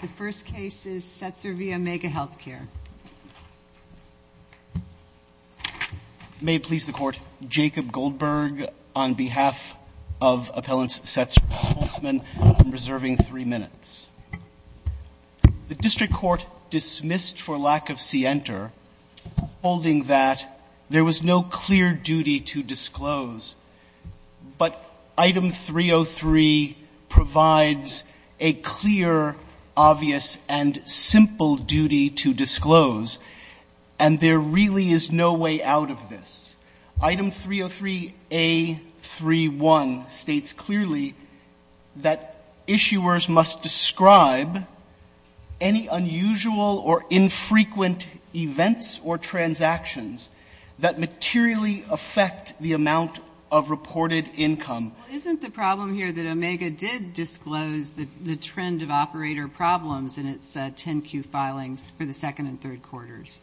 The first case is Setzer v. Omega Healthcare. May it please the Court, Jacob Goldberg on behalf of Appellant Setzer Holtzman, I'm reserving three minutes. The District Court dismissed for lack of scienter, holding that there was no clear duty to disclose, but Item 303 provides a clear, obvious, and simple duty to disclose, and there really is no way out of this. Item 303A.3.1 states clearly that issuers must describe any unusual or infrequent events or transactions that materially affect the amount of reported income. Well, isn't the problem here that Omega did disclose the trend of operator problems in its 10-Q filings for the second and third quarters?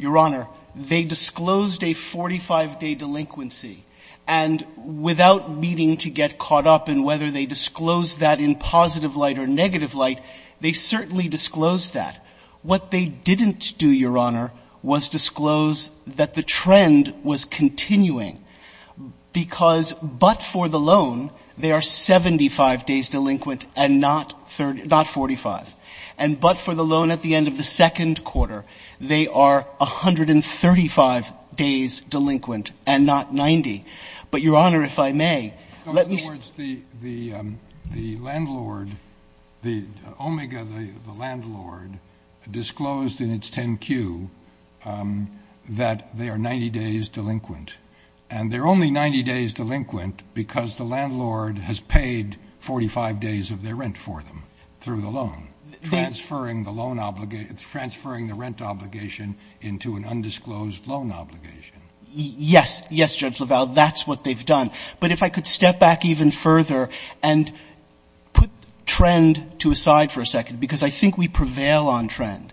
Your Honor, they disclosed a 45-day delinquency, and without needing to get caught up in whether they disclosed that in positive light or negative light, they certainly disclosed that. What they didn't do, Your Honor, was disclose that the trend was continuing, because but for the loan, they are 75 days delinquent and not 45. And but for the loan at the end of the second quarter, they are 135 days delinquent and not 90. But, Your Honor, if I may, let me say the In other words, the landlord, the Omega, the landlord, disclosed in its 10-Q that they are 90 days delinquent, and they're only 90 days delinquent because the landlord has paid 45 days of their rent for them through the loan, transferring the loan obligation transferring the rent obligation into an undisclosed loan obligation. Yes, yes, Judge LaValle, that's what they've done. But if I could step back even further and put trend to a side for a second, because I think we prevail on trend,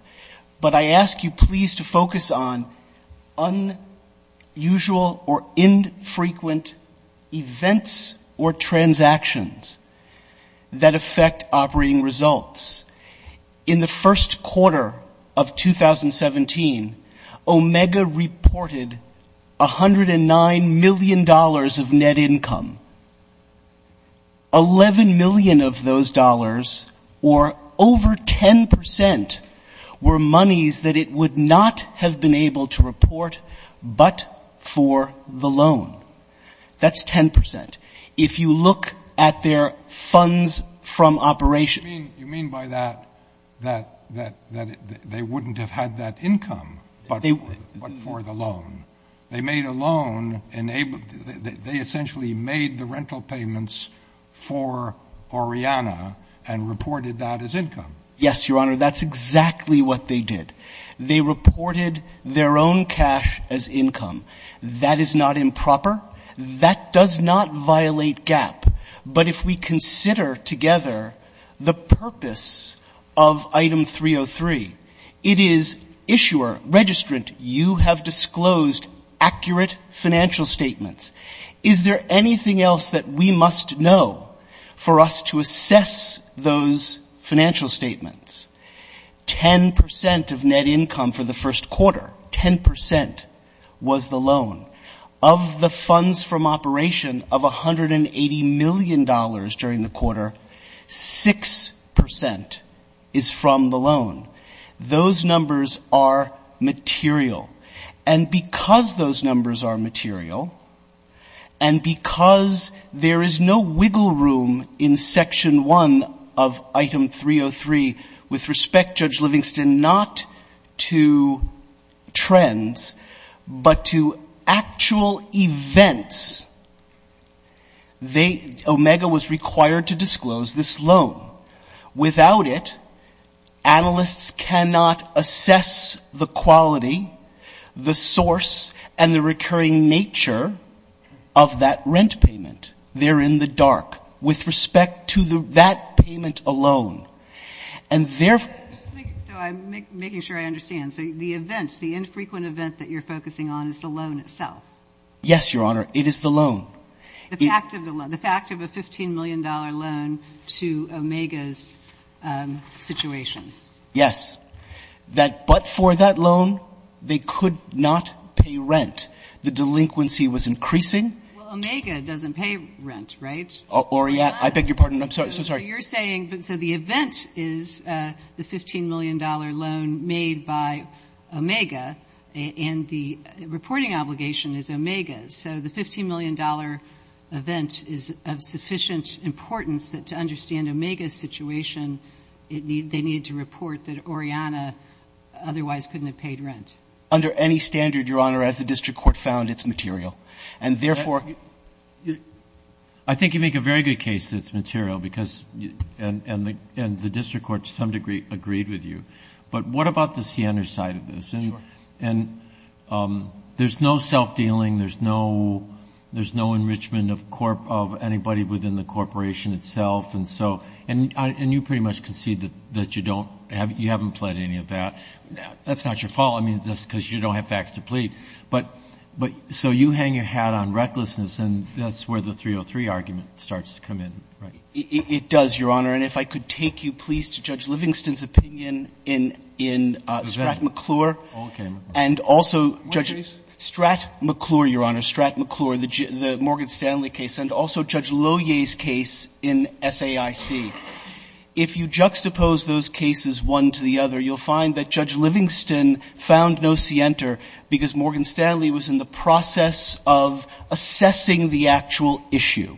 but I ask you please to focus on unusual or infrequent events or transactions that affect operating results. In the first quarter of 2017, Omega reported $109 million of net income. 11 million of those dollars, or over 10 percent, were monies that it would not have been able to report but for the loan. That's 10 percent. If you look at their funds from operations You mean by that, that they wouldn't have had that income but for the loan. They made a loan, they essentially made the rental payments for Oriana and reported that as income. Yes, Your Honor, that's exactly what they did. They reported their own cash as income. That is not improper. That does not violate GAAP. But if we consider together the purpose of item 303, it is issuer, registrant, you have disclosed accurate financial statements. Is there anything else that we must know for us to assess those financial statements? 10 percent of net income for the first quarter, 10 percent was the loan. Of the funds from operation of $180 million during the quarter, 6 percent is from the loan. Those numbers are material. And because those numbers are material, and because there is no wiggle room in section 1 of item 303, with respect, Judge Livingston, not to trends but to actual events, Omega was required to disclose this loan. Without it, analysts cannot assess the quality, the source, and the recurring nature of that rent payment. They're in the dark. With respect to that payment alone, and their ---- So I'm making sure I understand. So the event, the infrequent event that you're focusing on is the loan itself? Yes, Your Honor. It is the loan. The fact of the loan, the fact of a $15 million loan to Omega's situation? Yes. That but for that loan, they could not pay rent. The delinquency was increasing. Well, Omega doesn't pay rent, right? I beg your pardon. I'm so sorry. So you're saying, so the event is the $15 million loan made by Omega, and the reporting obligation is Omega's. So the $15 million event is of sufficient importance that to understand Omega's situation, they needed to report that Oriana otherwise couldn't have paid rent. Under any standard, Your Honor, as the district court found, it's material. And therefore I think you make a very good case that it's material because, and the district court to some degree agreed with you. But what about the Siena side of this? Sure. And there's no self-dealing. There's no enrichment of anybody within the corporation itself. And so, and you pretty much concede that you don't, you haven't pled any of that. That's not your fault. I mean, just because you don't have facts to plead. But, but so you hang your hat on recklessness and that's where the 303 argument starts to come in, right? It does, Your Honor. And if I could take you please to Judge Livingston's opinion in, in Stratt McClure. Okay. And also Judge Stratt McClure, Your Honor, Stratt McClure, the, the Morgan Stanley case, and also Judge Lohier's case in SAIC. If you juxtapose those cases one to the process of assessing the actual issue.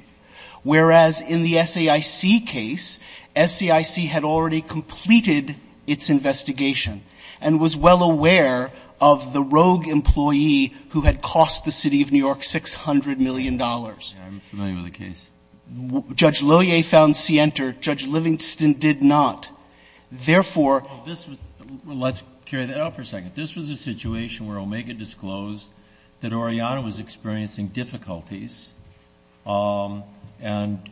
Whereas in the SAIC case, SAIC had already completed its investigation and was well aware of the rogue employee who had cost the City of New York $600 million. I'm familiar with the case. Judge Lohier found Sienter. Judge Livingston did not. Therefore. This was, let's carry that out for a second. This was a situation where Omega disclosed that Oriana was experiencing difficulties and,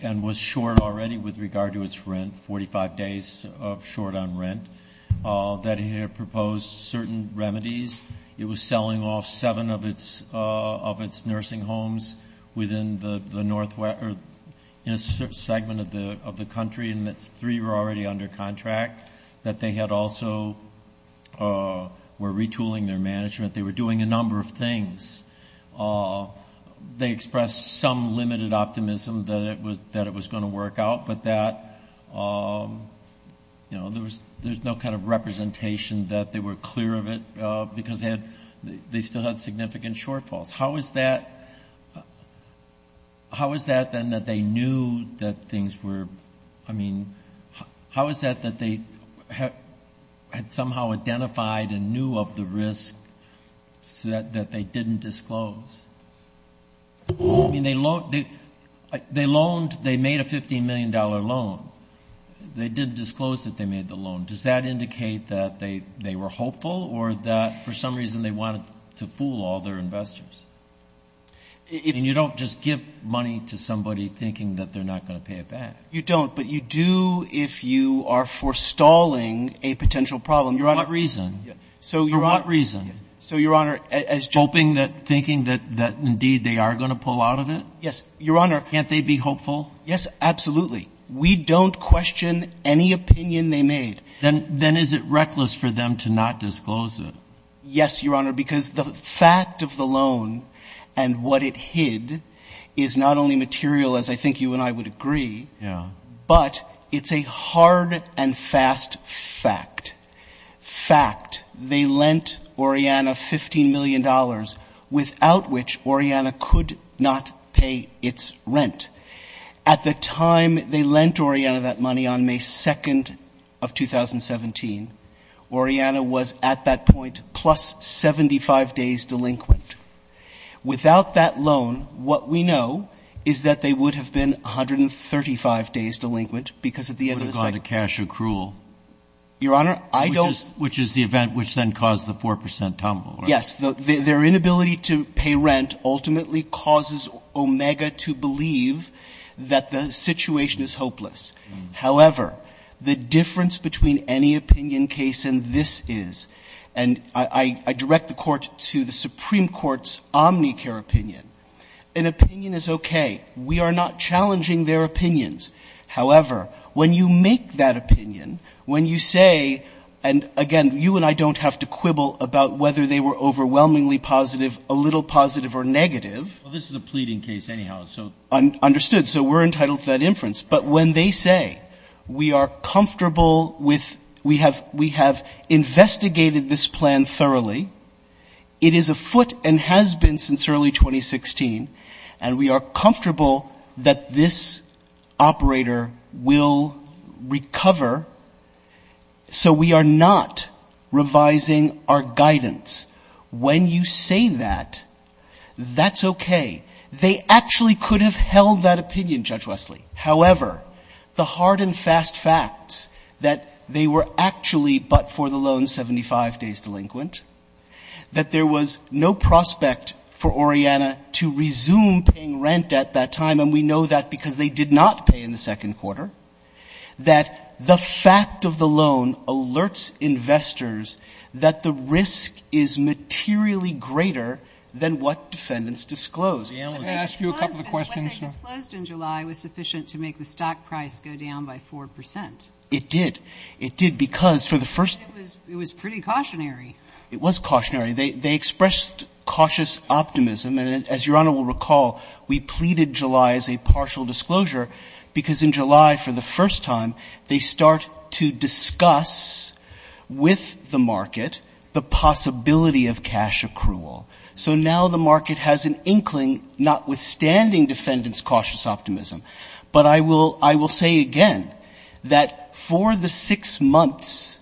and was short already with regard to its rent, 45 days short on rent. That it had proposed certain remedies. It was selling off seven of its, of its nursing homes within the, the north, in a certain segment of the, of the country. And that's three were already under contract. That they had also were retooling their management. They were doing a number of things. They expressed some limited optimism that it was, that it was going to work out. But that, you know, there was, there's no kind of representation that they were clear of it because they had, they still had significant shortfalls. How is that, how is that then that they knew that things were, I mean, how is that that they had somehow identified and knew of the risk so that, that they didn't disclose? I mean, they loaned, they loaned, they made a $15 million loan. They did disclose that they made the loan. Does that indicate that they, they were hopeful or that for some reason they wanted to fool all their investors? And you don't just give money to somebody thinking that they're not going to pay it back. You don't, but you do if you are forestalling a potential problem, Your Honor. For what reason? For what reason? So, Your Honor, as just... Hoping that, thinking that, that indeed they are going to pull out of it? Yes, Your Honor. Can't they be hopeful? Yes, absolutely. We don't question any opinion they made. Then, then is it reckless for them to not disclose it? Yes, Your Honor, because the fact of the loan and what it hid is not only material, as I think you and I would agree, but it's a hard and fast fact. Fact. They lent Oriana $15 million, without which Oriana could not pay its rent. At the time they lent Oriana that money on May 2nd of 2017, Oriana was at that point plus 75 days delinquent. Without that loan, what we know is that they would have been 135 days delinquent, because at the end of the second... Would have gone to cash accrual. Your Honor, I don't... Which is the event which then caused the 4% tumble, right? Yes, their inability to pay rent ultimately causes Omega to believe that the situation is hopeless. However, the difference between any opinion case and this is, and I direct the Court to the Supreme Court's Omnicare opinion. An opinion is okay. We are not challenging their opinions. However, when you make that opinion, when you say, and again, you and I don't have to quibble about whether they were overwhelmingly positive, a little positive or negative... Well, this is a pleading case anyhow, so... Okay. We are comfortable with... We have investigated this plan thoroughly. It is afoot and has been since early 2016, and we are comfortable that this operator will recover, so we are not revising our guidance. When you say that, that's okay. They actually could have held that opinion, Judge Wesley. However, the hard and fast facts that they were actually but for the loan 75 days delinquent, that there was no prospect for Oriana to resume paying rent at that time, and we know that because they did not pay in the second quarter, that the fact of the loan alerts investors that the risk is materially greater than what defendants disclosed. What they disclosed in July was sufficient to make the stock price go down by 4%. It did. It did because for the first... It was pretty cautionary. It was cautionary. They expressed cautious optimism, and as Your Honor will recall, we pleaded July as a partial disclosure because in July, for the first time, they start to discuss with the market the possibility of cash accrual. So now the market has an inkling notwithstanding defendants' cautious optimism, but I will say again that for the six months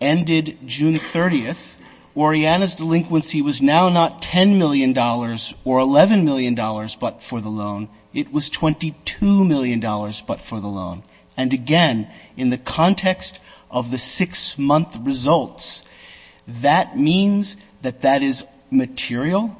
ended June 30th, Oriana's delinquency was now not $10 million or $11 million but for the loan. It was $22 million but for the loan. And again, in the context of the six-month results, that means that that is material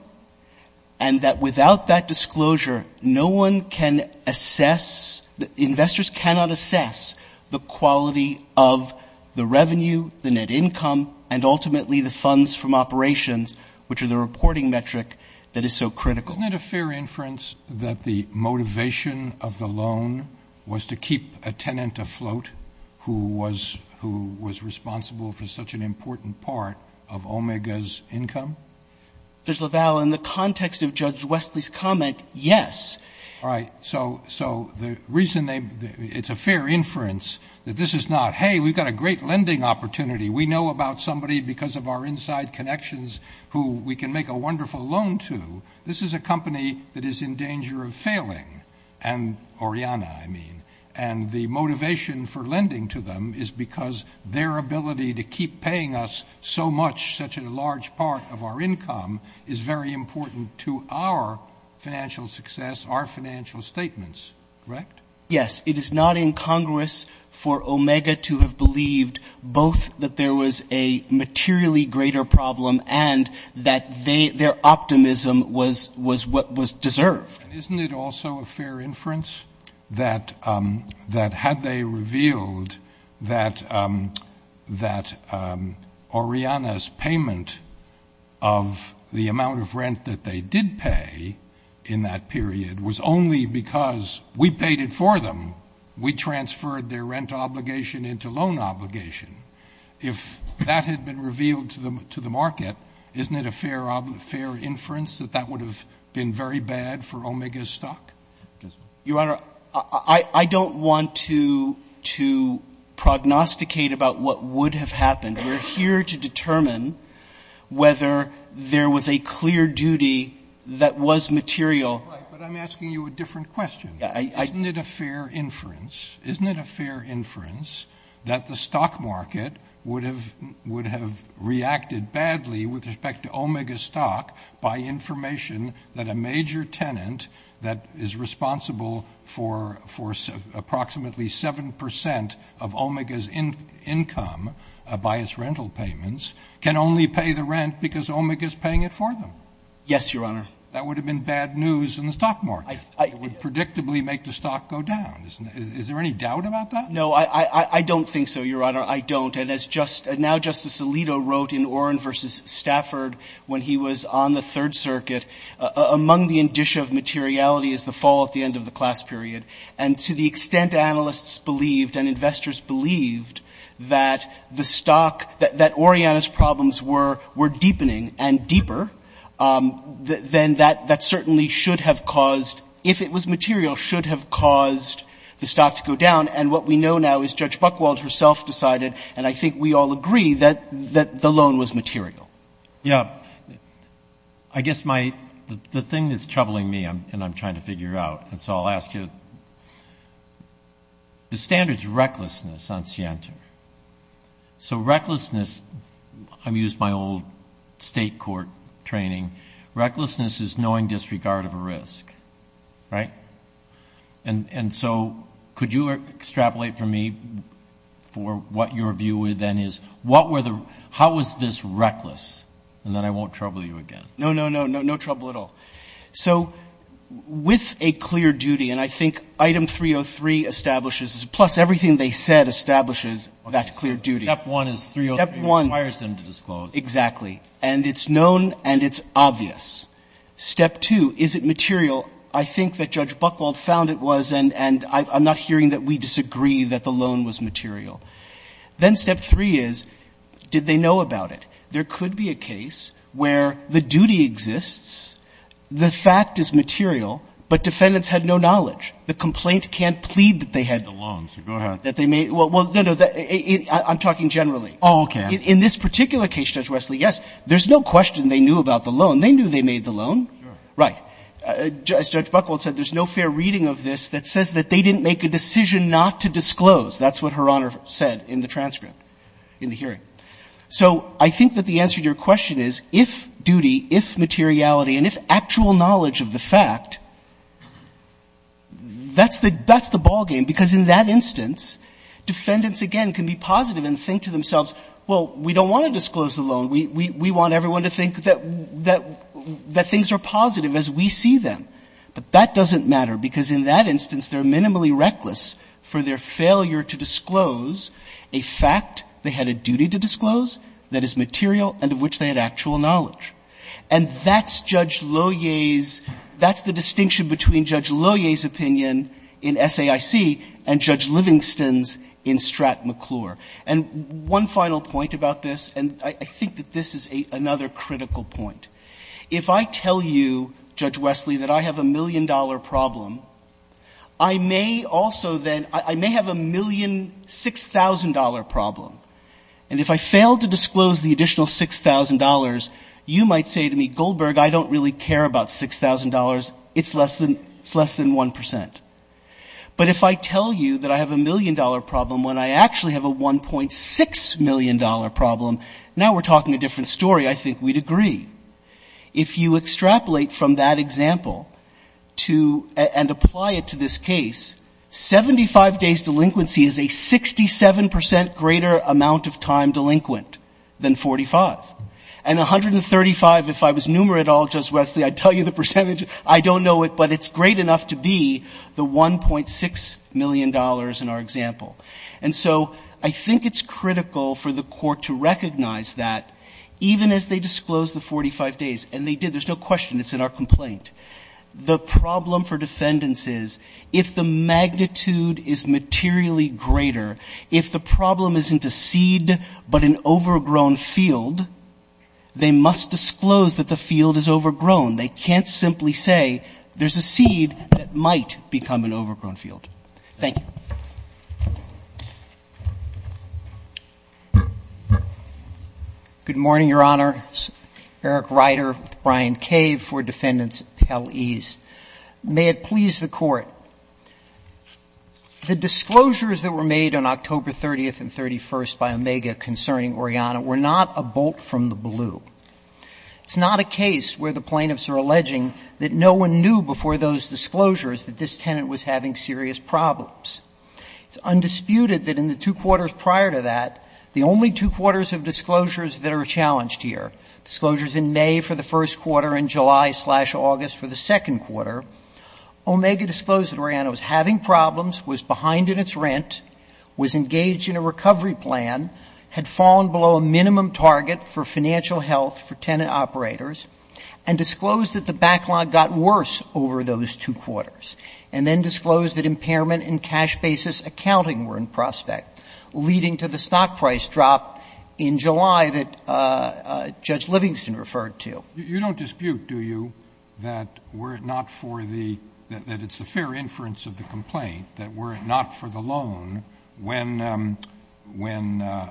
and that without that disclosure, no one can assess, investors cannot assess the quality of the revenue, the net income, and ultimately the funds from operations, which are the reporting metric that is so critical. Isn't that a fair inference that the motivation of the loan was to keep a tenant afloat who was responsible for such an important part of Omega's income? Judge LaValle, in the context of Judge Wesley's comment, yes. All right. So the reason they — it's a fair inference that this is not, hey, we've got a great lending opportunity. We know about somebody because of our inside connections who we can make a wonderful loan to. This is a company that is in danger of failing. And Oriana, I mean. And the motivation for lending to them is because their ability to keep paying us so much, such a large part of our income, is very important to our financial success, our financial statements, correct? Yes. It is not incongruous for Omega to have believed both that there was a materially greater problem and that their optimism was what was deserved. And isn't it also a fair inference that had they revealed that, you know, the — that Oriana's payment of the amount of rent that they did pay in that period was only because we paid it for them, we transferred their rent obligation into loan obligation? If that had been revealed to the market, isn't it a fair inference that that would have been very bad for Omega's stock? Your Honor, I don't want to — to prognosticate about what would have happened. We're here to determine whether there was a clear duty that was material — But I'm asking you a different question. Isn't it a fair inference — isn't it a fair inference that the stock market would have — would have reacted badly with respect to Omega's stock by information that a major tenant that is responsible for approximately 7 percent of Omega's income by its rental payments can only pay the rent because Omega's paying it for them? Yes, Your Honor. That would have been bad news in the stock market. I — It would predictably make the stock go down. Is there any doubt about that? No, I don't think so, Your Honor. I don't. And as just — now Justice Alito wrote in Oren v. Stafford when he was on the Third Circuit, among the indicia of materiality is the fall at the end of the class period. And to the extent analysts believed and investors believed that the stock — that Oriana's problems were deepening and deeper, then that certainly should have caused — if it was material, should have caused the stock to go down. And what we know now is Judge Buchwald herself decided, and I think we all agree, that the loan was material. Yeah. I guess my — the thing that's troubling me, and I'm trying to figure out, and so I'll ask you, the standard's recklessness on Sienta. So recklessness — I've used my old state court training. Recklessness is knowing disregard of a risk, right? And so could you extrapolate for me for what your view then is? What were the — how was this reckless? And then I won't trouble you again. No, no, no. No trouble at all. So with a clear duty, and I think Item 303 establishes, plus everything they said establishes that clear duty. Step one is 303. Step one. It requires them to disclose. Exactly. And it's known and it's obvious. Step two, is it material? I think that Judge Buchwald found it was, and I'm not hearing that we disagree that the loan was material. Then step three is, did they know about it? There could be a case where the duty exists, the fact is material, but defendants had no knowledge. The complaint can't plead that they had the loan. So go ahead. Well, no, no. I'm talking generally. Oh, okay. In this particular case, Judge Wesley, yes, there's no question they knew about the loan. They knew they made the loan. Sure. Right. As Judge Buchwald said, there's no fair reading of this that says that they didn't make a decision not to disclose. That's what Her Honor said in the transcript, in the hearing. So I think that the answer to your question is, if duty, if materiality, and if actual knowledge of the fact, that's the ballgame, because in that instance, defendants again can be positive and think to themselves, well, we don't want to disclose the loan. We want everyone to think that things are positive as we see them. But that doesn't matter, because in that instance, they're minimally reckless for their failure to disclose a fact they had a duty to disclose that is material and of which they had actual knowledge. And that's Judge Lohier's, that's the distinction between Judge Lohier's opinion in SAIC and Judge Livingston's in Strat McClure. And one final point about this, and I think that this is another critical point. If I tell you, Judge Wesley, that I have a million-dollar problem, I may also then ‑‑ I may have a million, $6,000 problem. And if I fail to disclose the additional $6,000, you might say to me, Goldberg, I don't really care about $6,000. It's less than 1%. But if I tell you that I have a million-dollar problem when I actually have a $1.6 million problem, now we're talking a different story. I think we'd agree. If you extrapolate from that example and apply it to this case, 75 days delinquency is a 67% greater amount of time delinquent than 45. And 135, if I was numeratologist Wesley, I'd tell you the percentage, I don't know it, but it's great enough to be the $1.6 million in our example. And so I think it's critical for the court to recognize that even as they disclose the 45 days, and they did, there's no question, it's in our complaint, the problem for defendants is, if the magnitude is materially greater, if the problem isn't a seed but an overgrown field, they must disclose that the field is overgrown. They can't simply say there's a seed that might become an overgrown field. Thank you. Good morning, Your Honor. Eric Ryder, Brian Cave for Defendants' Appeal Ease. May it please the Court. The disclosures that were made on October 30th and 31st by Omega concerning Oriana were not a bolt from the blue. It's not a case where the plaintiffs are alleging that no one knew before those disclosures that this tenant was having serious problems. It's undisputed that in the two quarters prior to that, the only two quarters of disclosures that are challenged here, disclosures in May for the first quarter and July-slash-August for the second quarter, Omega disclosed that Oriana was having problems, was behind in its rent, was engaged in a recovery plan, had fallen below a minimum target for financial health for tenant operators, and disclosed that the backlog got worse over those two quarters, and then disclosed that impairment in cash basis accounting were in prospect, leading to the stock price drop in July that Judge Livingston referred to. You don't dispute, do you, that were it not for the — that it's a fair inference of the complaint, that were it not for the loan, when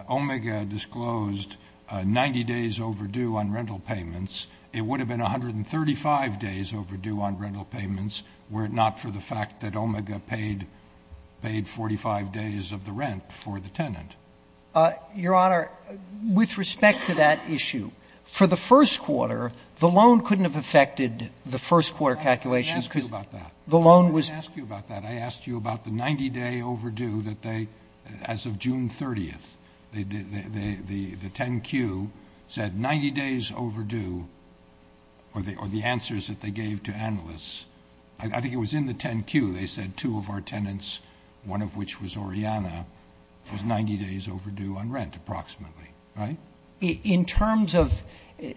Omega disclosed 90 days overdue on rental payments, it would have been 135 days overdue on rental payments were it not for the fact that Omega paid — paid 45 days of the rent for the tenant? Your Honor, with respect to that issue, for the first quarter, the loan couldn't have affected the first quarter calculations because the loan was — I didn't ask you about that. I didn't ask you about that. I asked you about the 90-day overdue that they, as of June 30th, the 10-Q said 90 days overdue, or the answers that they gave to analysts. I think it was in the 10-Q. They said two of our tenants, one of which was Oriana, was 90 days overdue on rent approximately, right? In terms of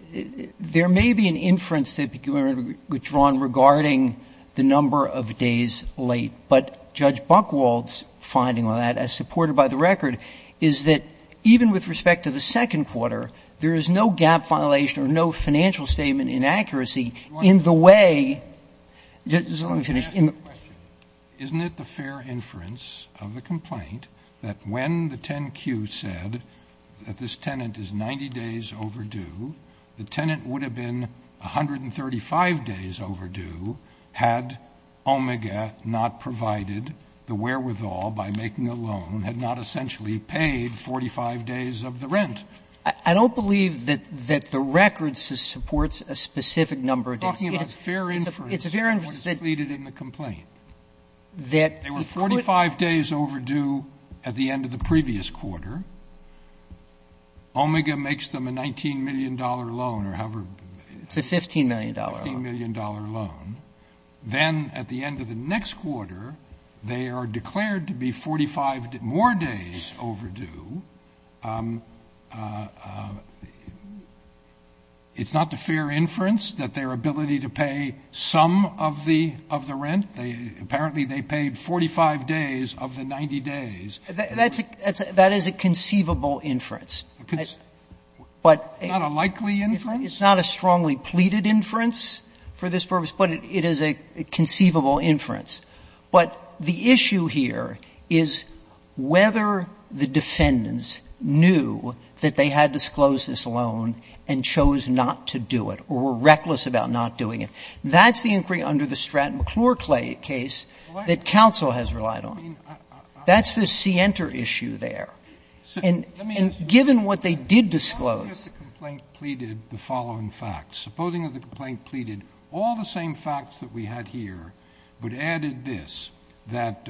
— there may be an inference that could be drawn regarding the number of days late, but Judge Buchwald's finding on that, as supported by the record, is that even with respect to the second quarter, there is no gap violation or no financial statement inaccuracy in the way — Just let me finish. Isn't it the fair inference of the complaint that when the 10-Q said that this tenant is 90 days overdue, the tenant would have been 135 days overdue had Omega not provided the wherewithal by making a loan, had not essentially paid 45 days of the rent? I don't believe that the record supports a specific number of days. It's a fair inference. It's a fair inference that — What is pleaded in the complaint? They were 45 days overdue at the end of the previous quarter. Omega makes them a $19 million loan or however — It's a $15 million loan. $15 million loan. Then at the end of the next quarter, they are declared to be 45 more days overdue It's not the fair inference that their ability to pay some of the rent, apparently they paid 45 days of the 90 days. That is a conceivable inference. Not a likely inference? It's not a strongly pleaded inference for this purpose, but it is a conceivable inference. But the issue here is whether the defendants knew that they had disclosed this loan and chose not to do it or were reckless about not doing it. That's the inquiry under the Stratton-McClure case that counsel has relied on. That's the scienter issue there. And given what they did disclose — Suppose that the complaint pleaded the following facts. Supposing that the complaint pleaded all the same facts that we had here, but added this, that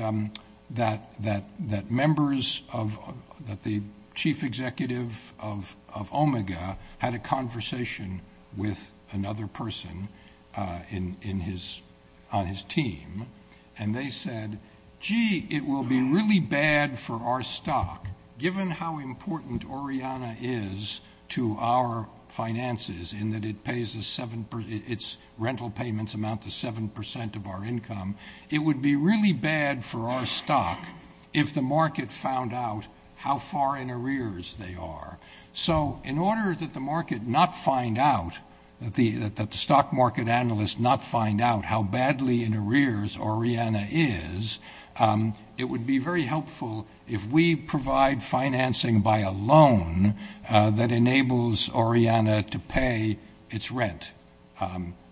members of — that the chief executive of Omega had a conversation with another person on his team, and they said, gee, it will be really bad for our stock Given how important Oriana is to our finances in that it pays its rental payments amount to 7% of our income, it would be really bad for our stock if the market found out how far in arrears they are. So in order that the market not find out, that the stock market analyst not find out how badly in arrears Oriana is, it would be very helpful if we provide financing by a loan that enables Oriana to pay its rent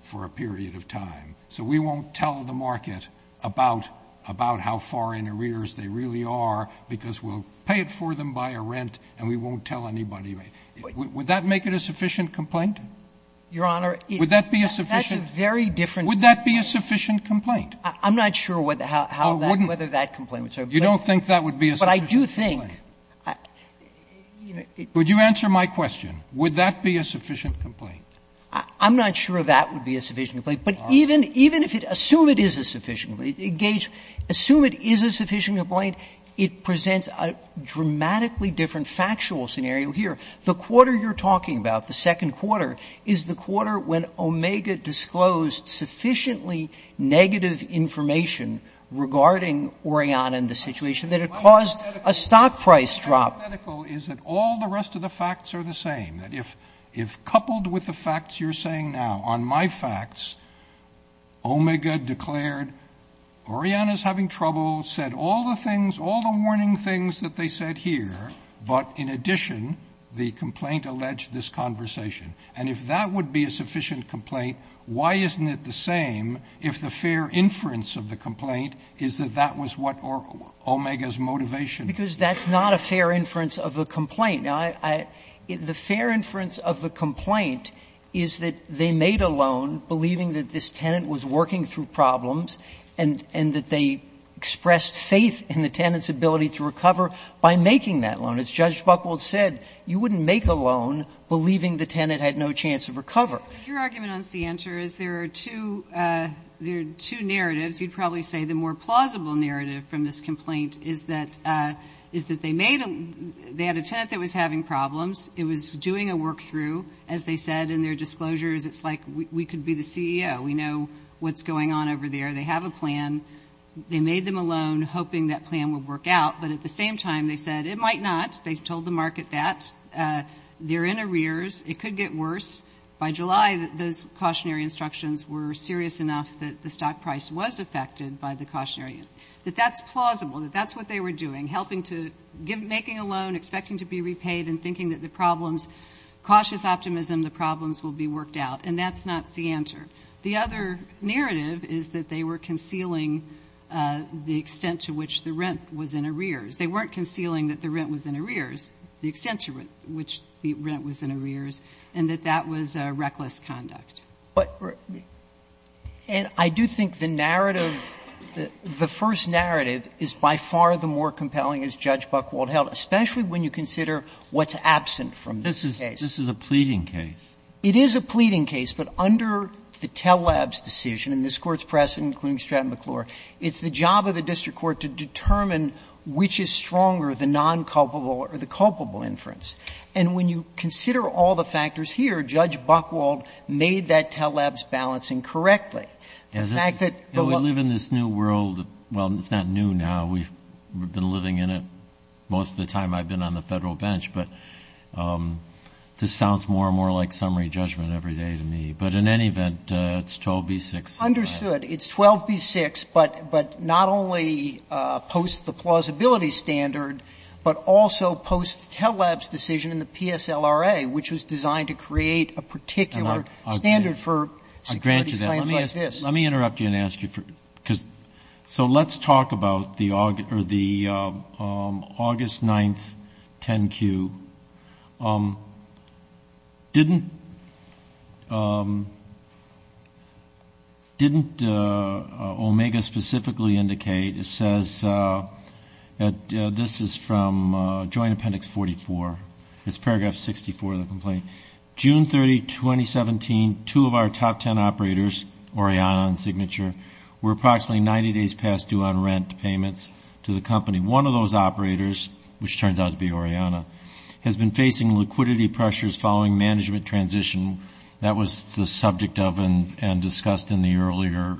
for a period of time. So we won't tell the market about how far in arrears they really are because we'll pay it for them by a rent, and we won't tell anybody. Would that make it a sufficient complaint? Your Honor — Would that be a sufficient — That's a very different — Would that be a sufficient complaint? I'm not sure whether that complaint would serve. You don't think that would be a sufficient complaint? But I do think — Would you answer my question? Would that be a sufficient complaint? I'm not sure that would be a sufficient complaint, but even if it — assume it is a sufficient complaint. Assume it is a sufficient complaint, it presents a dramatically different factual scenario here. The quarter you're talking about, the second quarter, is the quarter when Omega disclosed sufficiently negative information regarding Oriana and the situation that it caused a stock price drop. My hypothetical is that all the rest of the facts are the same, that if coupled with the facts you're saying now, on my facts, Omega declared Oriana's having trouble, said all the things, all the warning things that they said here, but in addition the complaint alleged this conversation. And if that would be a sufficient complaint, why isn't it the same if the fair inference of the complaint is that that was what Omega's motivation was? Because that's not a fair inference of the complaint. Now, the fair inference of the complaint is that they made a loan believing that this tenant was working through problems and that they expressed faith in the tenant's ability to recover by making that loan. As Judge Buchwald said, you wouldn't make a loan believing the tenant had no chance of recovery. So your argument on Sienter is there are two narratives. You'd probably say the more plausible narrative from this complaint is that they made a loan. They had a tenant that was having problems. It was doing a work through. As they said in their disclosures, it's like we could be the CEO. We know what's going on over there. They have a plan. They made them a loan hoping that plan would work out. But at the same time, they said it might not. They told the market that. They're in arrears. It could get worse. By July, those cautionary instructions were serious enough that the stock price was affected by the cautionary. That that's plausible, that that's what they were doing, helping to make a loan, expecting to be repaid, and thinking that the problems, cautious optimism, the problems will be worked out. And that's not Sienter. The other narrative is that they were concealing the extent to which the rent was in arrears. They weren't concealing that the rent was in arrears, the extent to which the rent was in arrears, and that that was reckless conduct. Roberts. And I do think the narrative, the first narrative is by far the more compelling as Judge Buchwald held, especially when you consider what's absent from this case. This is a pleading case. It is a pleading case, but under the Tellab's decision, and this Court's precedent, including Stratton McClure, it's the job of the district court to determine which is stronger, the non-culpable or the culpable inference. And when you consider all the factors here, Judge Buchwald made that Tellab's balancing correctly. The fact that the law. And we live in this new world. Well, it's not new now. We've been living in it most of the time I've been on the Federal bench. But this sounds more and more like summary judgment every day to me. But in any event, it's 12B-6. Understood. It's 12B-6, but not only post the plausibility standard, but also post Tellab's decision in the PSLRA, which was designed to create a particular standard for security claims like this. I grant you that. Let me interrupt you and ask you, because so let's talk about the August 9th 10-Q didn't Omega specifically indicate, it says, this is from Joint Appendix 44. It's paragraph 64 of the complaint. June 30, 2017, two of our top ten operators, Oriana and Signature, were approximately 90 days past due on rent payments to the company. And one of those operators, which turns out to be Oriana, has been facing liquidity pressures following management transition. That was the subject of and discussed in the earlier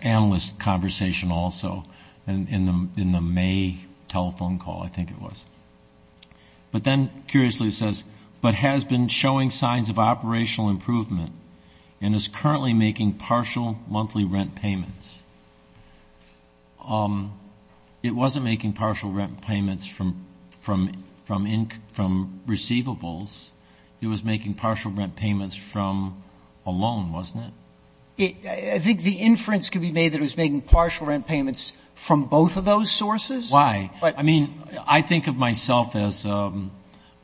analyst conversation also in the May telephone call, I think it was. But then, curiously, it says, but has been showing signs of operational It wasn't making partial rent payments from receivables. It was making partial rent payments from a loan, wasn't it? I think the inference could be made that it was making partial rent payments from both of those sources. Why? I mean, I think of myself as an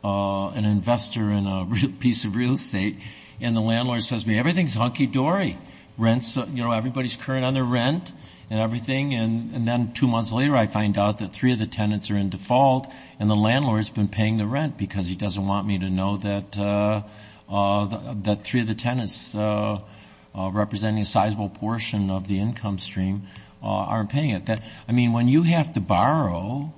investor in a piece of real estate, and the landlord says to me, everything is hunky-dory. Everybody's current on their rent and everything, and then two months later, I find out that three of the tenants are in default, and the landlord's been paying the rent because he doesn't want me to know that three of the tenants representing a sizable portion of the income stream aren't paying it. I mean, when you have to borrow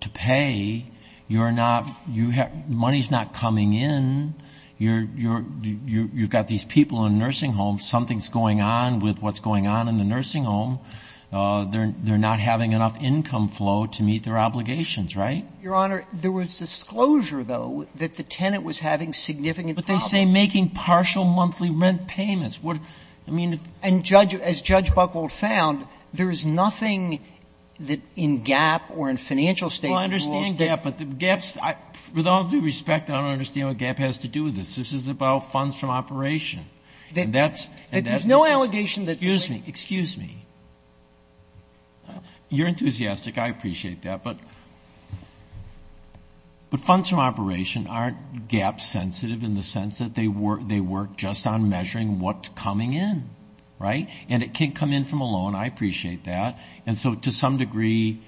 to pay, money's not coming in. You've got these people in a nursing home. Something's going on with what's going on in the nursing home. They're not having enough income flow to meet their obligations, right? Your Honor, there was disclosure, though, that the tenant was having significant problems. But they say making partial monthly rent payments. What do you mean? And, Judge, as Judge Buchwald found, there is nothing that in GAAP or in financial statement rules that Well, I understand GAAP, but the GAAPs, with all due respect, I don't understand what GAAP has to do with this. This is about funds from operation. And that's There's no allegation that Excuse me. Excuse me. You're enthusiastic. I appreciate that. But funds from operation aren't GAAP sensitive in the sense that they work just on measuring what's coming in, right? And it can come in from a loan. I appreciate that. And so to some degree,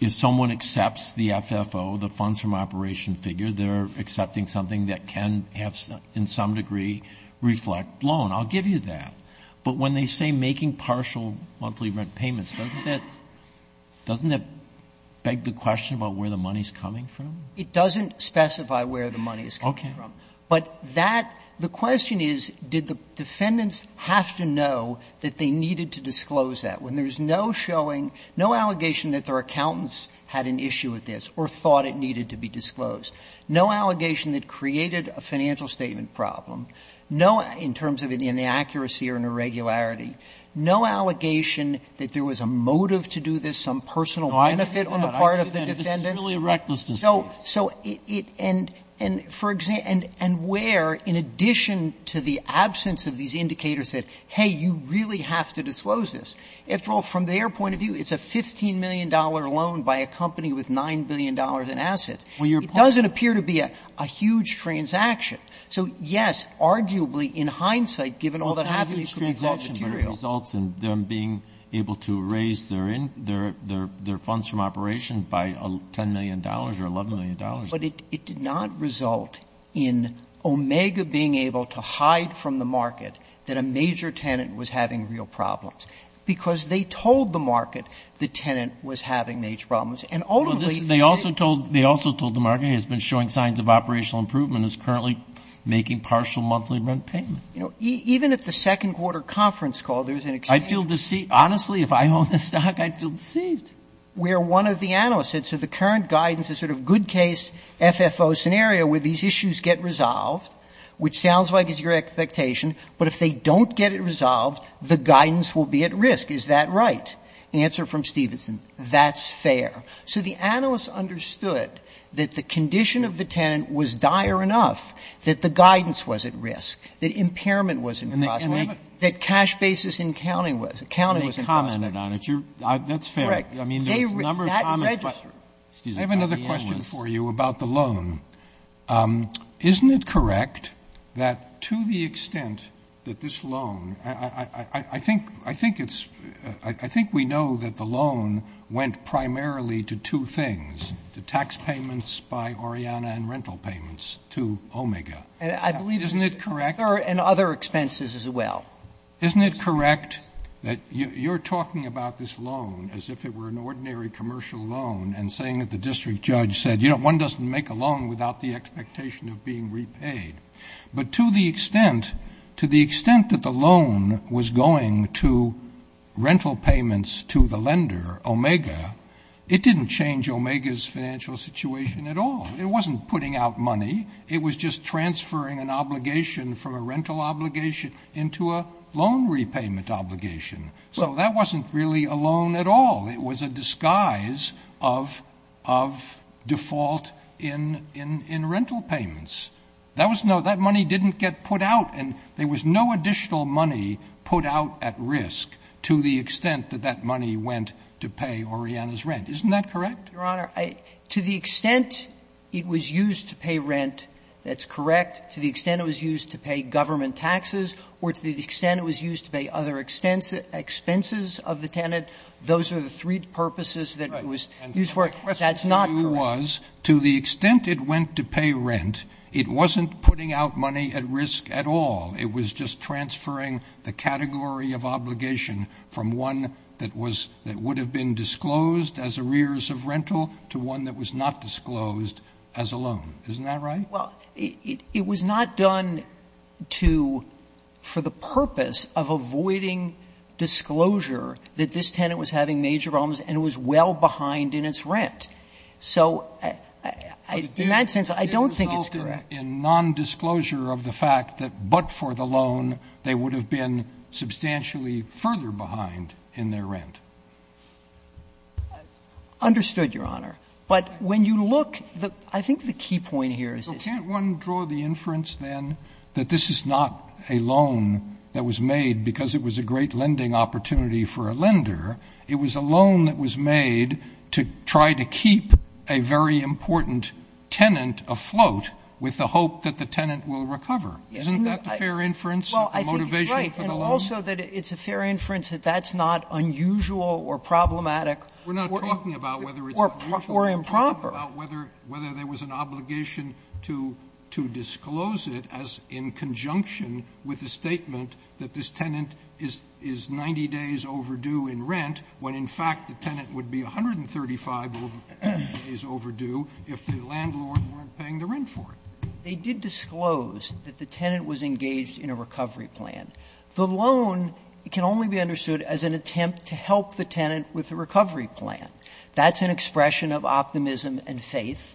if someone accepts the FFO, the funds from operation figure, they're accepting something that can have in some degree reflect loan. I'll give you that. But when they say making partial monthly rent payments, doesn't that beg the question about where the money is coming from? It doesn't specify where the money is coming from. Okay. But that the question is, did the defendants have to know that they needed to disclose that, when there is no showing, no allegation that their accountants had an issue with this or thought it needed to be disclosed. No allegation that created a financial statement problem. No, in terms of an inaccuracy or an irregularity. No allegation that there was a motive to do this, some personal benefit on the part of the defendants. No, I agree with that. I agree with that. This is really a recklessness case. And where, in addition to the absence of these indicators that, hey, you really have to disclose this. After all, from their point of view, it's a $15 million loan by a company with $9 billion in assets. It doesn't appear to be a huge transaction. So, yes, arguably, in hindsight, given all that happened, it could result in material. But it did not result in Omega being able to hide from the market that a major tenant was having real problems. Because they told the market the tenant was having major problems. And ultimately, they also told the market it has been showing signs of operational improvement. It's currently making partial monthly rent payments. Even at the second quarter conference call, there's an experience. I'd feel deceived. Honestly, if I owned this stock, I'd feel deceived. Where one of the analysts said, so the current guidance is sort of good case FFO scenario where these issues get resolved, which sounds like is your expectation. But if they don't get it resolved, the guidance will be at risk. Is that right? The answer from Stevenson, that's fair. So the analysts understood that the condition of the tenant was dire enough that the guidance was at risk, that impairment was impossible, that cash basis in accounting was impossible. You commented on it. That's fair. I mean, there's a number of comments. Excuse me. I have another question for you about the loan. Isn't it correct that to the extent that this loan, I think it's, I think we know that the loan went primarily to two things, the tax payments by Oriana and rental payments to Omega. Isn't it correct? And I believe there are other expenses as well. Isn't it correct that you're talking about this loan as if it were an ordinary commercial loan and saying that the district judge said, you know, one doesn't make a loan without the expectation of being repaid. But to the extent, to the extent that the loan was going to rental payments to the lender, Omega, it didn't change Omega's financial situation at all. It wasn't putting out money. It was just transferring an obligation from a rental obligation into a loan repayment obligation. So that wasn't really a loan at all. It was a disguise of default in rental payments. That was no, that money didn't get put out. And there was no additional money put out at risk to the extent that that money went to pay Oriana's rent. Isn't that correct? Your Honor, to the extent it was used to pay rent, that's correct. To the extent it was used to pay government taxes or to the extent it was used to pay other expenses of the tenant, those are the three purposes that it was used for. That's not correct. And my question to you was, to the extent it went to pay rent, it wasn't putting out money at risk at all. It was just transferring the category of obligation from one that was, that would have been disclosed as arrears of rental to one that was not disclosed as a loan. Isn't that right? Well, it was not done to, for the purpose of avoiding disclosure that this tenant was having major problems and was well behind in its rent. So in that sense, I don't think it's correct. But it didn't result in nondisclosure of the fact that, but for the loan, they would have been substantially further behind in their rent. Understood, Your Honor. But when you look, I think the key point here is this. So can't one draw the inference, then, that this is not a loan that was made because it was a great lending opportunity for a lender? It was a loan that was made to try to keep a very important tenant afloat with the hope that the tenant will recover. Isn't that the fair inference, the motivation for the loan? Well, I think it's right. And also that it's a fair inference that that's not unusual or problematic. We're not talking about whether it's unusual. Or improper. We're talking about whether there was an obligation to disclose it as in conjunction with the statement that this tenant is 90 days overdue in rent when, in fact, the tenant would be 135 days overdue if the landlord weren't paying the rent for it. They did disclose that the tenant was engaged in a recovery plan. The loan can only be understood as an attempt to help the tenant with a recovery plan. That's an expression of optimism and faith.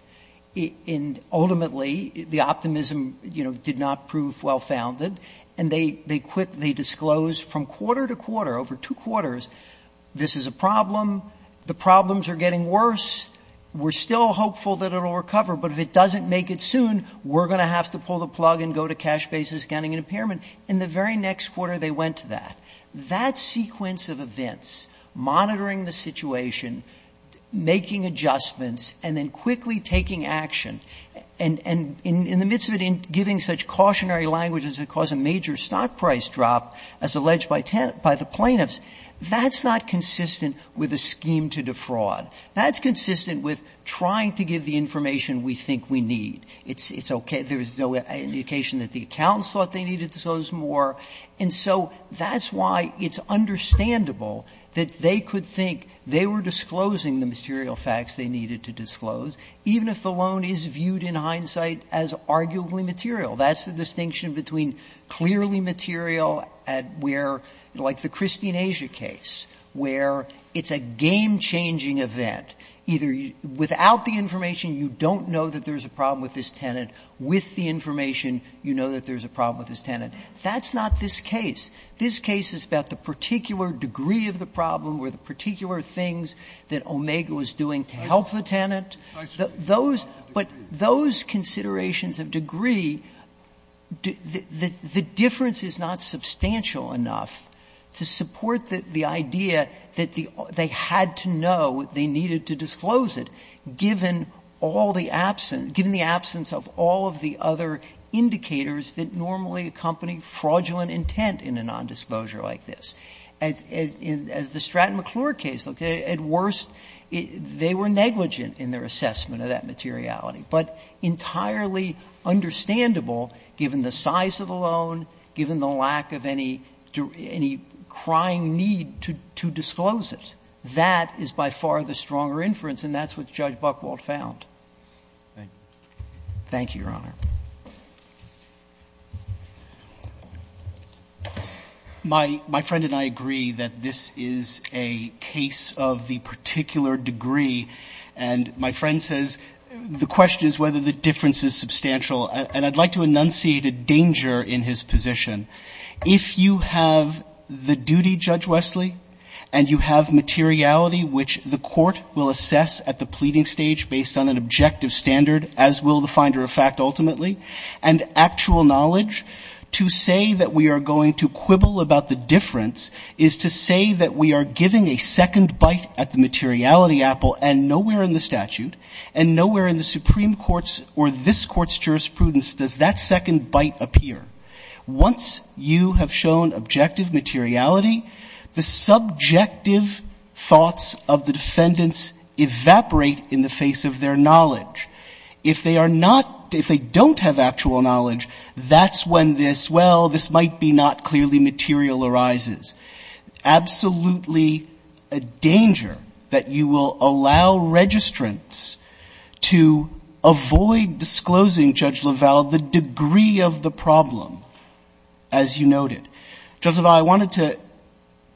And ultimately, the optimism, you know, did not prove well-founded. And they quickly disclosed from quarter to quarter, over two quarters, this is a problem, the problems are getting worse, we're still hopeful that it will recover, but if it doesn't make it soon, we're going to have to pull the plug and go to cash basis accounting and impairment. In the very next quarter, they went to that. That sequence of events, monitoring the situation, making adjustments, and then quickly taking action, and in the midst of it, giving such cautionary language as to cause a major stock price drop, as alleged by the plaintiffs, that's not consistent with a scheme to defraud. That's consistent with trying to give the information we think we need. It's okay. There's no indication that the accountant thought they needed to disclose more. And so that's why it's understandable that they could think they were disclosing the material facts they needed to disclose, even if the loan is viewed in hindsight as arguably material. That's the distinction between clearly material at where, like the Christine Asia case, where it's a game-changing event. Either without the information, you don't know that there's a problem with this tenant. With the information, you know that there's a problem with this tenant. That's not this case. This case is about the particular degree of the problem or the particular things that Omega was doing to help the tenant. Those considerations of degree, the difference is not substantial enough to support the idea that they had to know they needed to disclose it, given all the absence of all of the other indicators that normally accompany fraudulent intent in a nondisclosure like this. As the Stratton McClure case looked at, at worst, they were negligent in their assessment of that materiality, but entirely understandable, given the size of the loan, given the lack of any crying need to disclose it. That is by far the stronger inference, and that's what Judge Buchwald found. Thank you, Your Honor. My friend and I agree that this is a case of the particular degree. And my friend says the question is whether the difference is substantial. And I'd like to enunciate a danger in his position. If you have the duty, Judge Wesley, and you have materiality, which the Court will assess at the pleading stage based on an objective standard, as will the finder of fact ultimately, and actual knowledge, to say that we are going to quibble about the difference is to say that we are giving a second bite at the materiality example, and nowhere in the statute and nowhere in the Supreme Court's or this Court's jurisprudence does that second bite appear. Once you have shown objective materiality, the subjective thoughts of the defendants evaporate in the face of their knowledge. If they are not, if they don't have actual knowledge, that's when this, well, this might be not clearly material arises. Absolutely a danger that you will allow registrants to avoid disclosing, Judge LaValle, the degree of the problem, as you noted. Judge LaValle, I wanted to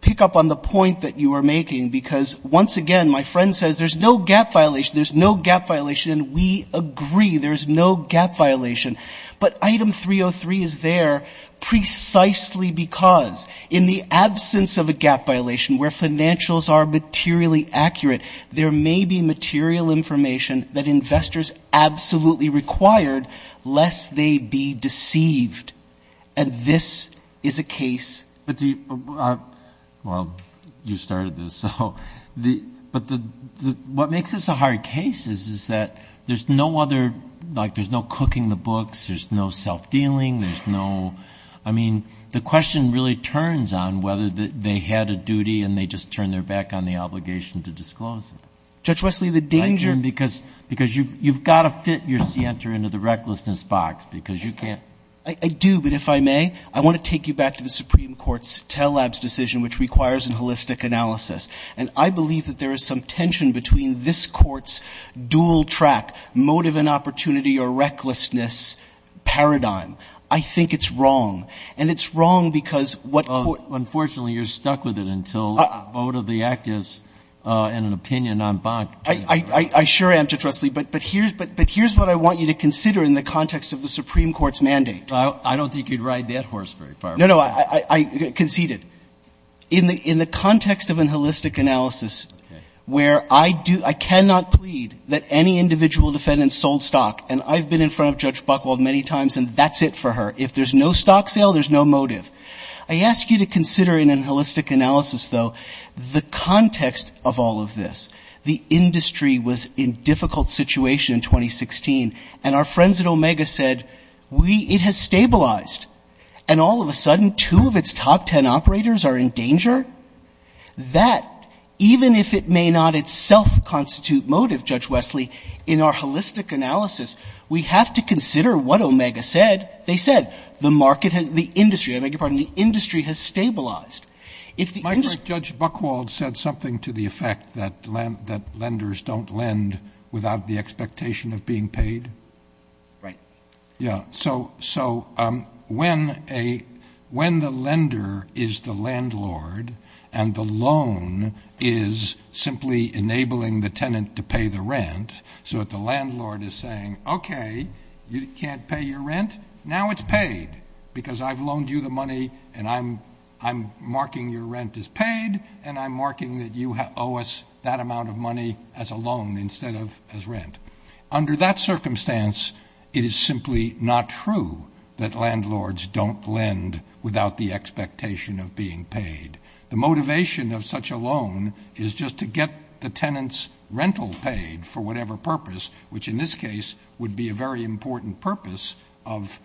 pick up on the point that you were making, because once again, my friend says there's no gap violation. There's no gap violation. And we agree there's no gap violation. But item 303 is there precisely because in the absence of a gap violation where financials are materially accurate, there may be material information that investors absolutely required, lest they be deceived. And this is a case. But the, well, you started this. So, but what makes this a hard case is that there's no other, like there's no cooking the books. There's no self-dealing. There's no, I mean, the question really turns on whether they had a duty and they just turned their back on the obligation to disclose it. Judge Wesley, the danger. Because you've got to fit your center into the recklessness box, because you can't. I do. But if I may, I want to take you back to the Supreme Court's tell-labs decision, which requires a holistic analysis. And I believe that there is some tension between this Court's dual track, motive and opportunity or recklessness paradigm. I think it's wrong. And it's wrong because what Court ---- Unfortunately, you're stuck with it until the vote of the act is in an opinion en banc. I sure am, Judge Wesley. But here's what I want you to consider in the context of the Supreme Court's mandate. I don't think you'd ride that horse very far. No, no. I conceded. In the context of a holistic analysis where I do, I cannot plead that any individual defendant sold stock. And I've been in front of Judge Buchwald many times, and that's it for her. If there's no stock sale, there's no motive. I ask you to consider in a holistic analysis, though, the context of all of this. The industry was in difficult situation in 2016. And our friends at Omega said, we ---- it has stabilized. And all of a sudden, two of its top ten operators are in danger? That, even if it may not itself constitute motive, Judge Wesley, in our holistic analysis, we have to consider what Omega said. They said the market has ---- the industry. I beg your pardon. The industry has stabilized. If the industry ---- Roberts. My friend Judge Buchwald said something to the effect that lenders don't lend without the expectation of being paid. Right. Yeah. So when a ---- when the lender is the landlord and the loan is simply enabling the tenant to pay the rent so that the landlord is saying, okay, you can't pay your rent, now it's paid because I've loaned you the money and I'm marking your rent as paid and I'm marking that you owe us that amount of money as a loan instead of as rent. Under that circumstance, it is simply not true that landlords don't lend without the expectation of being paid. The motivation of such a loan is just to get the tenant's rental paid for whatever purpose, which in this case would be a very important purpose of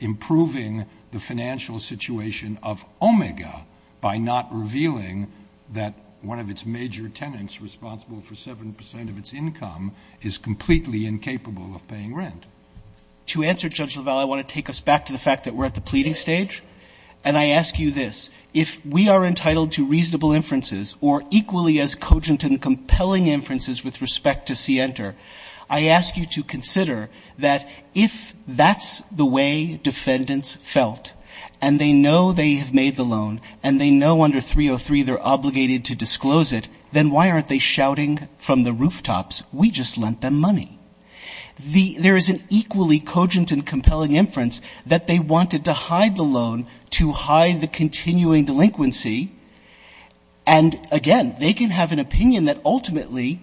improving the financial situation of Omega by not revealing that one of its major tenants responsible for 7 percent of its income is completely incapable of paying rent. To answer Judge LaValle, I want to take us back to the fact that we're at the pleading stage. And I ask you this. If we are entitled to reasonable inferences or equally as cogent and compelling inferences with respect to Center, I ask you to consider that if that's the way defendants felt and they know they have made the loan and they know under 303 they're obligated to disclose it, then why aren't they shouting from the rooftops, we just lent them money? There is an equally cogent and compelling inference that they wanted to hide the loan to hide the continuing delinquency. And, again, they can have an opinion that ultimately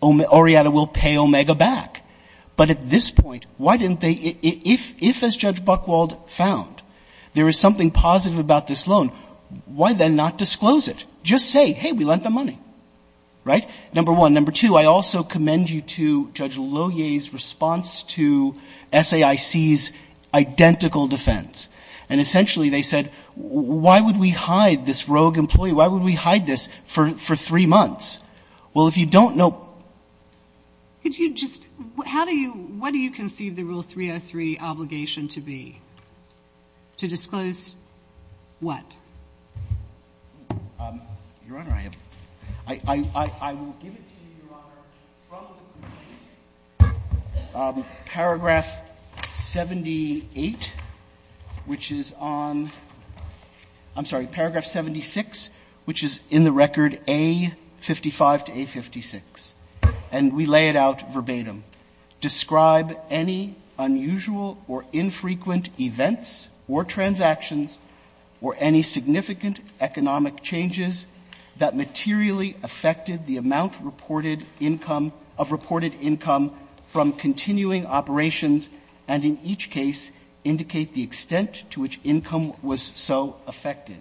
Oreada will pay Omega back. But at this point, why didn't they? If, as Judge Buchwald found, there is something positive about this loan, why then not disclose it? Just say, hey, we lent them money. Right? Number one. Number two, I also commend you to Judge Lohier's response to SAIC's identical defense. And, essentially, they said, why would we hide this rogue employee? Why would we hide this for three months? Well, if you don't know — Could you just — how do you — what do you conceive the Rule 303 obligation to be? To disclose what? Your Honor, I have — I will give it to you, Your Honor, from paragraph 78, which is on — I'm sorry, paragraph 76, which is in the record A55 to A56. And we lay it out verbatim. We lay it out verbatim. Describe any unusual or infrequent events or transactions or any significant economic changes that materially affected the amount reported income — of reported income from continuing operations and, in each case, indicate the extent to which income was so affected.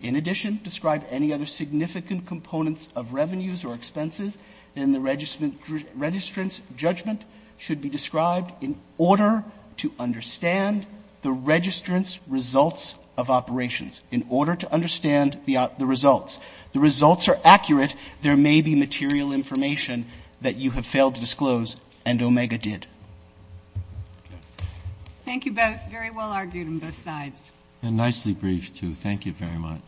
In addition, describe any other significant components of revenues or expenses in the registrant's judgment should be described in order to understand the registrant's results of operations, in order to understand the results. If the results are accurate, there may be material information that you have failed to disclose, and Omega did. Thank you both. Very well argued on both sides. And nicely briefed, too. Thank you very much.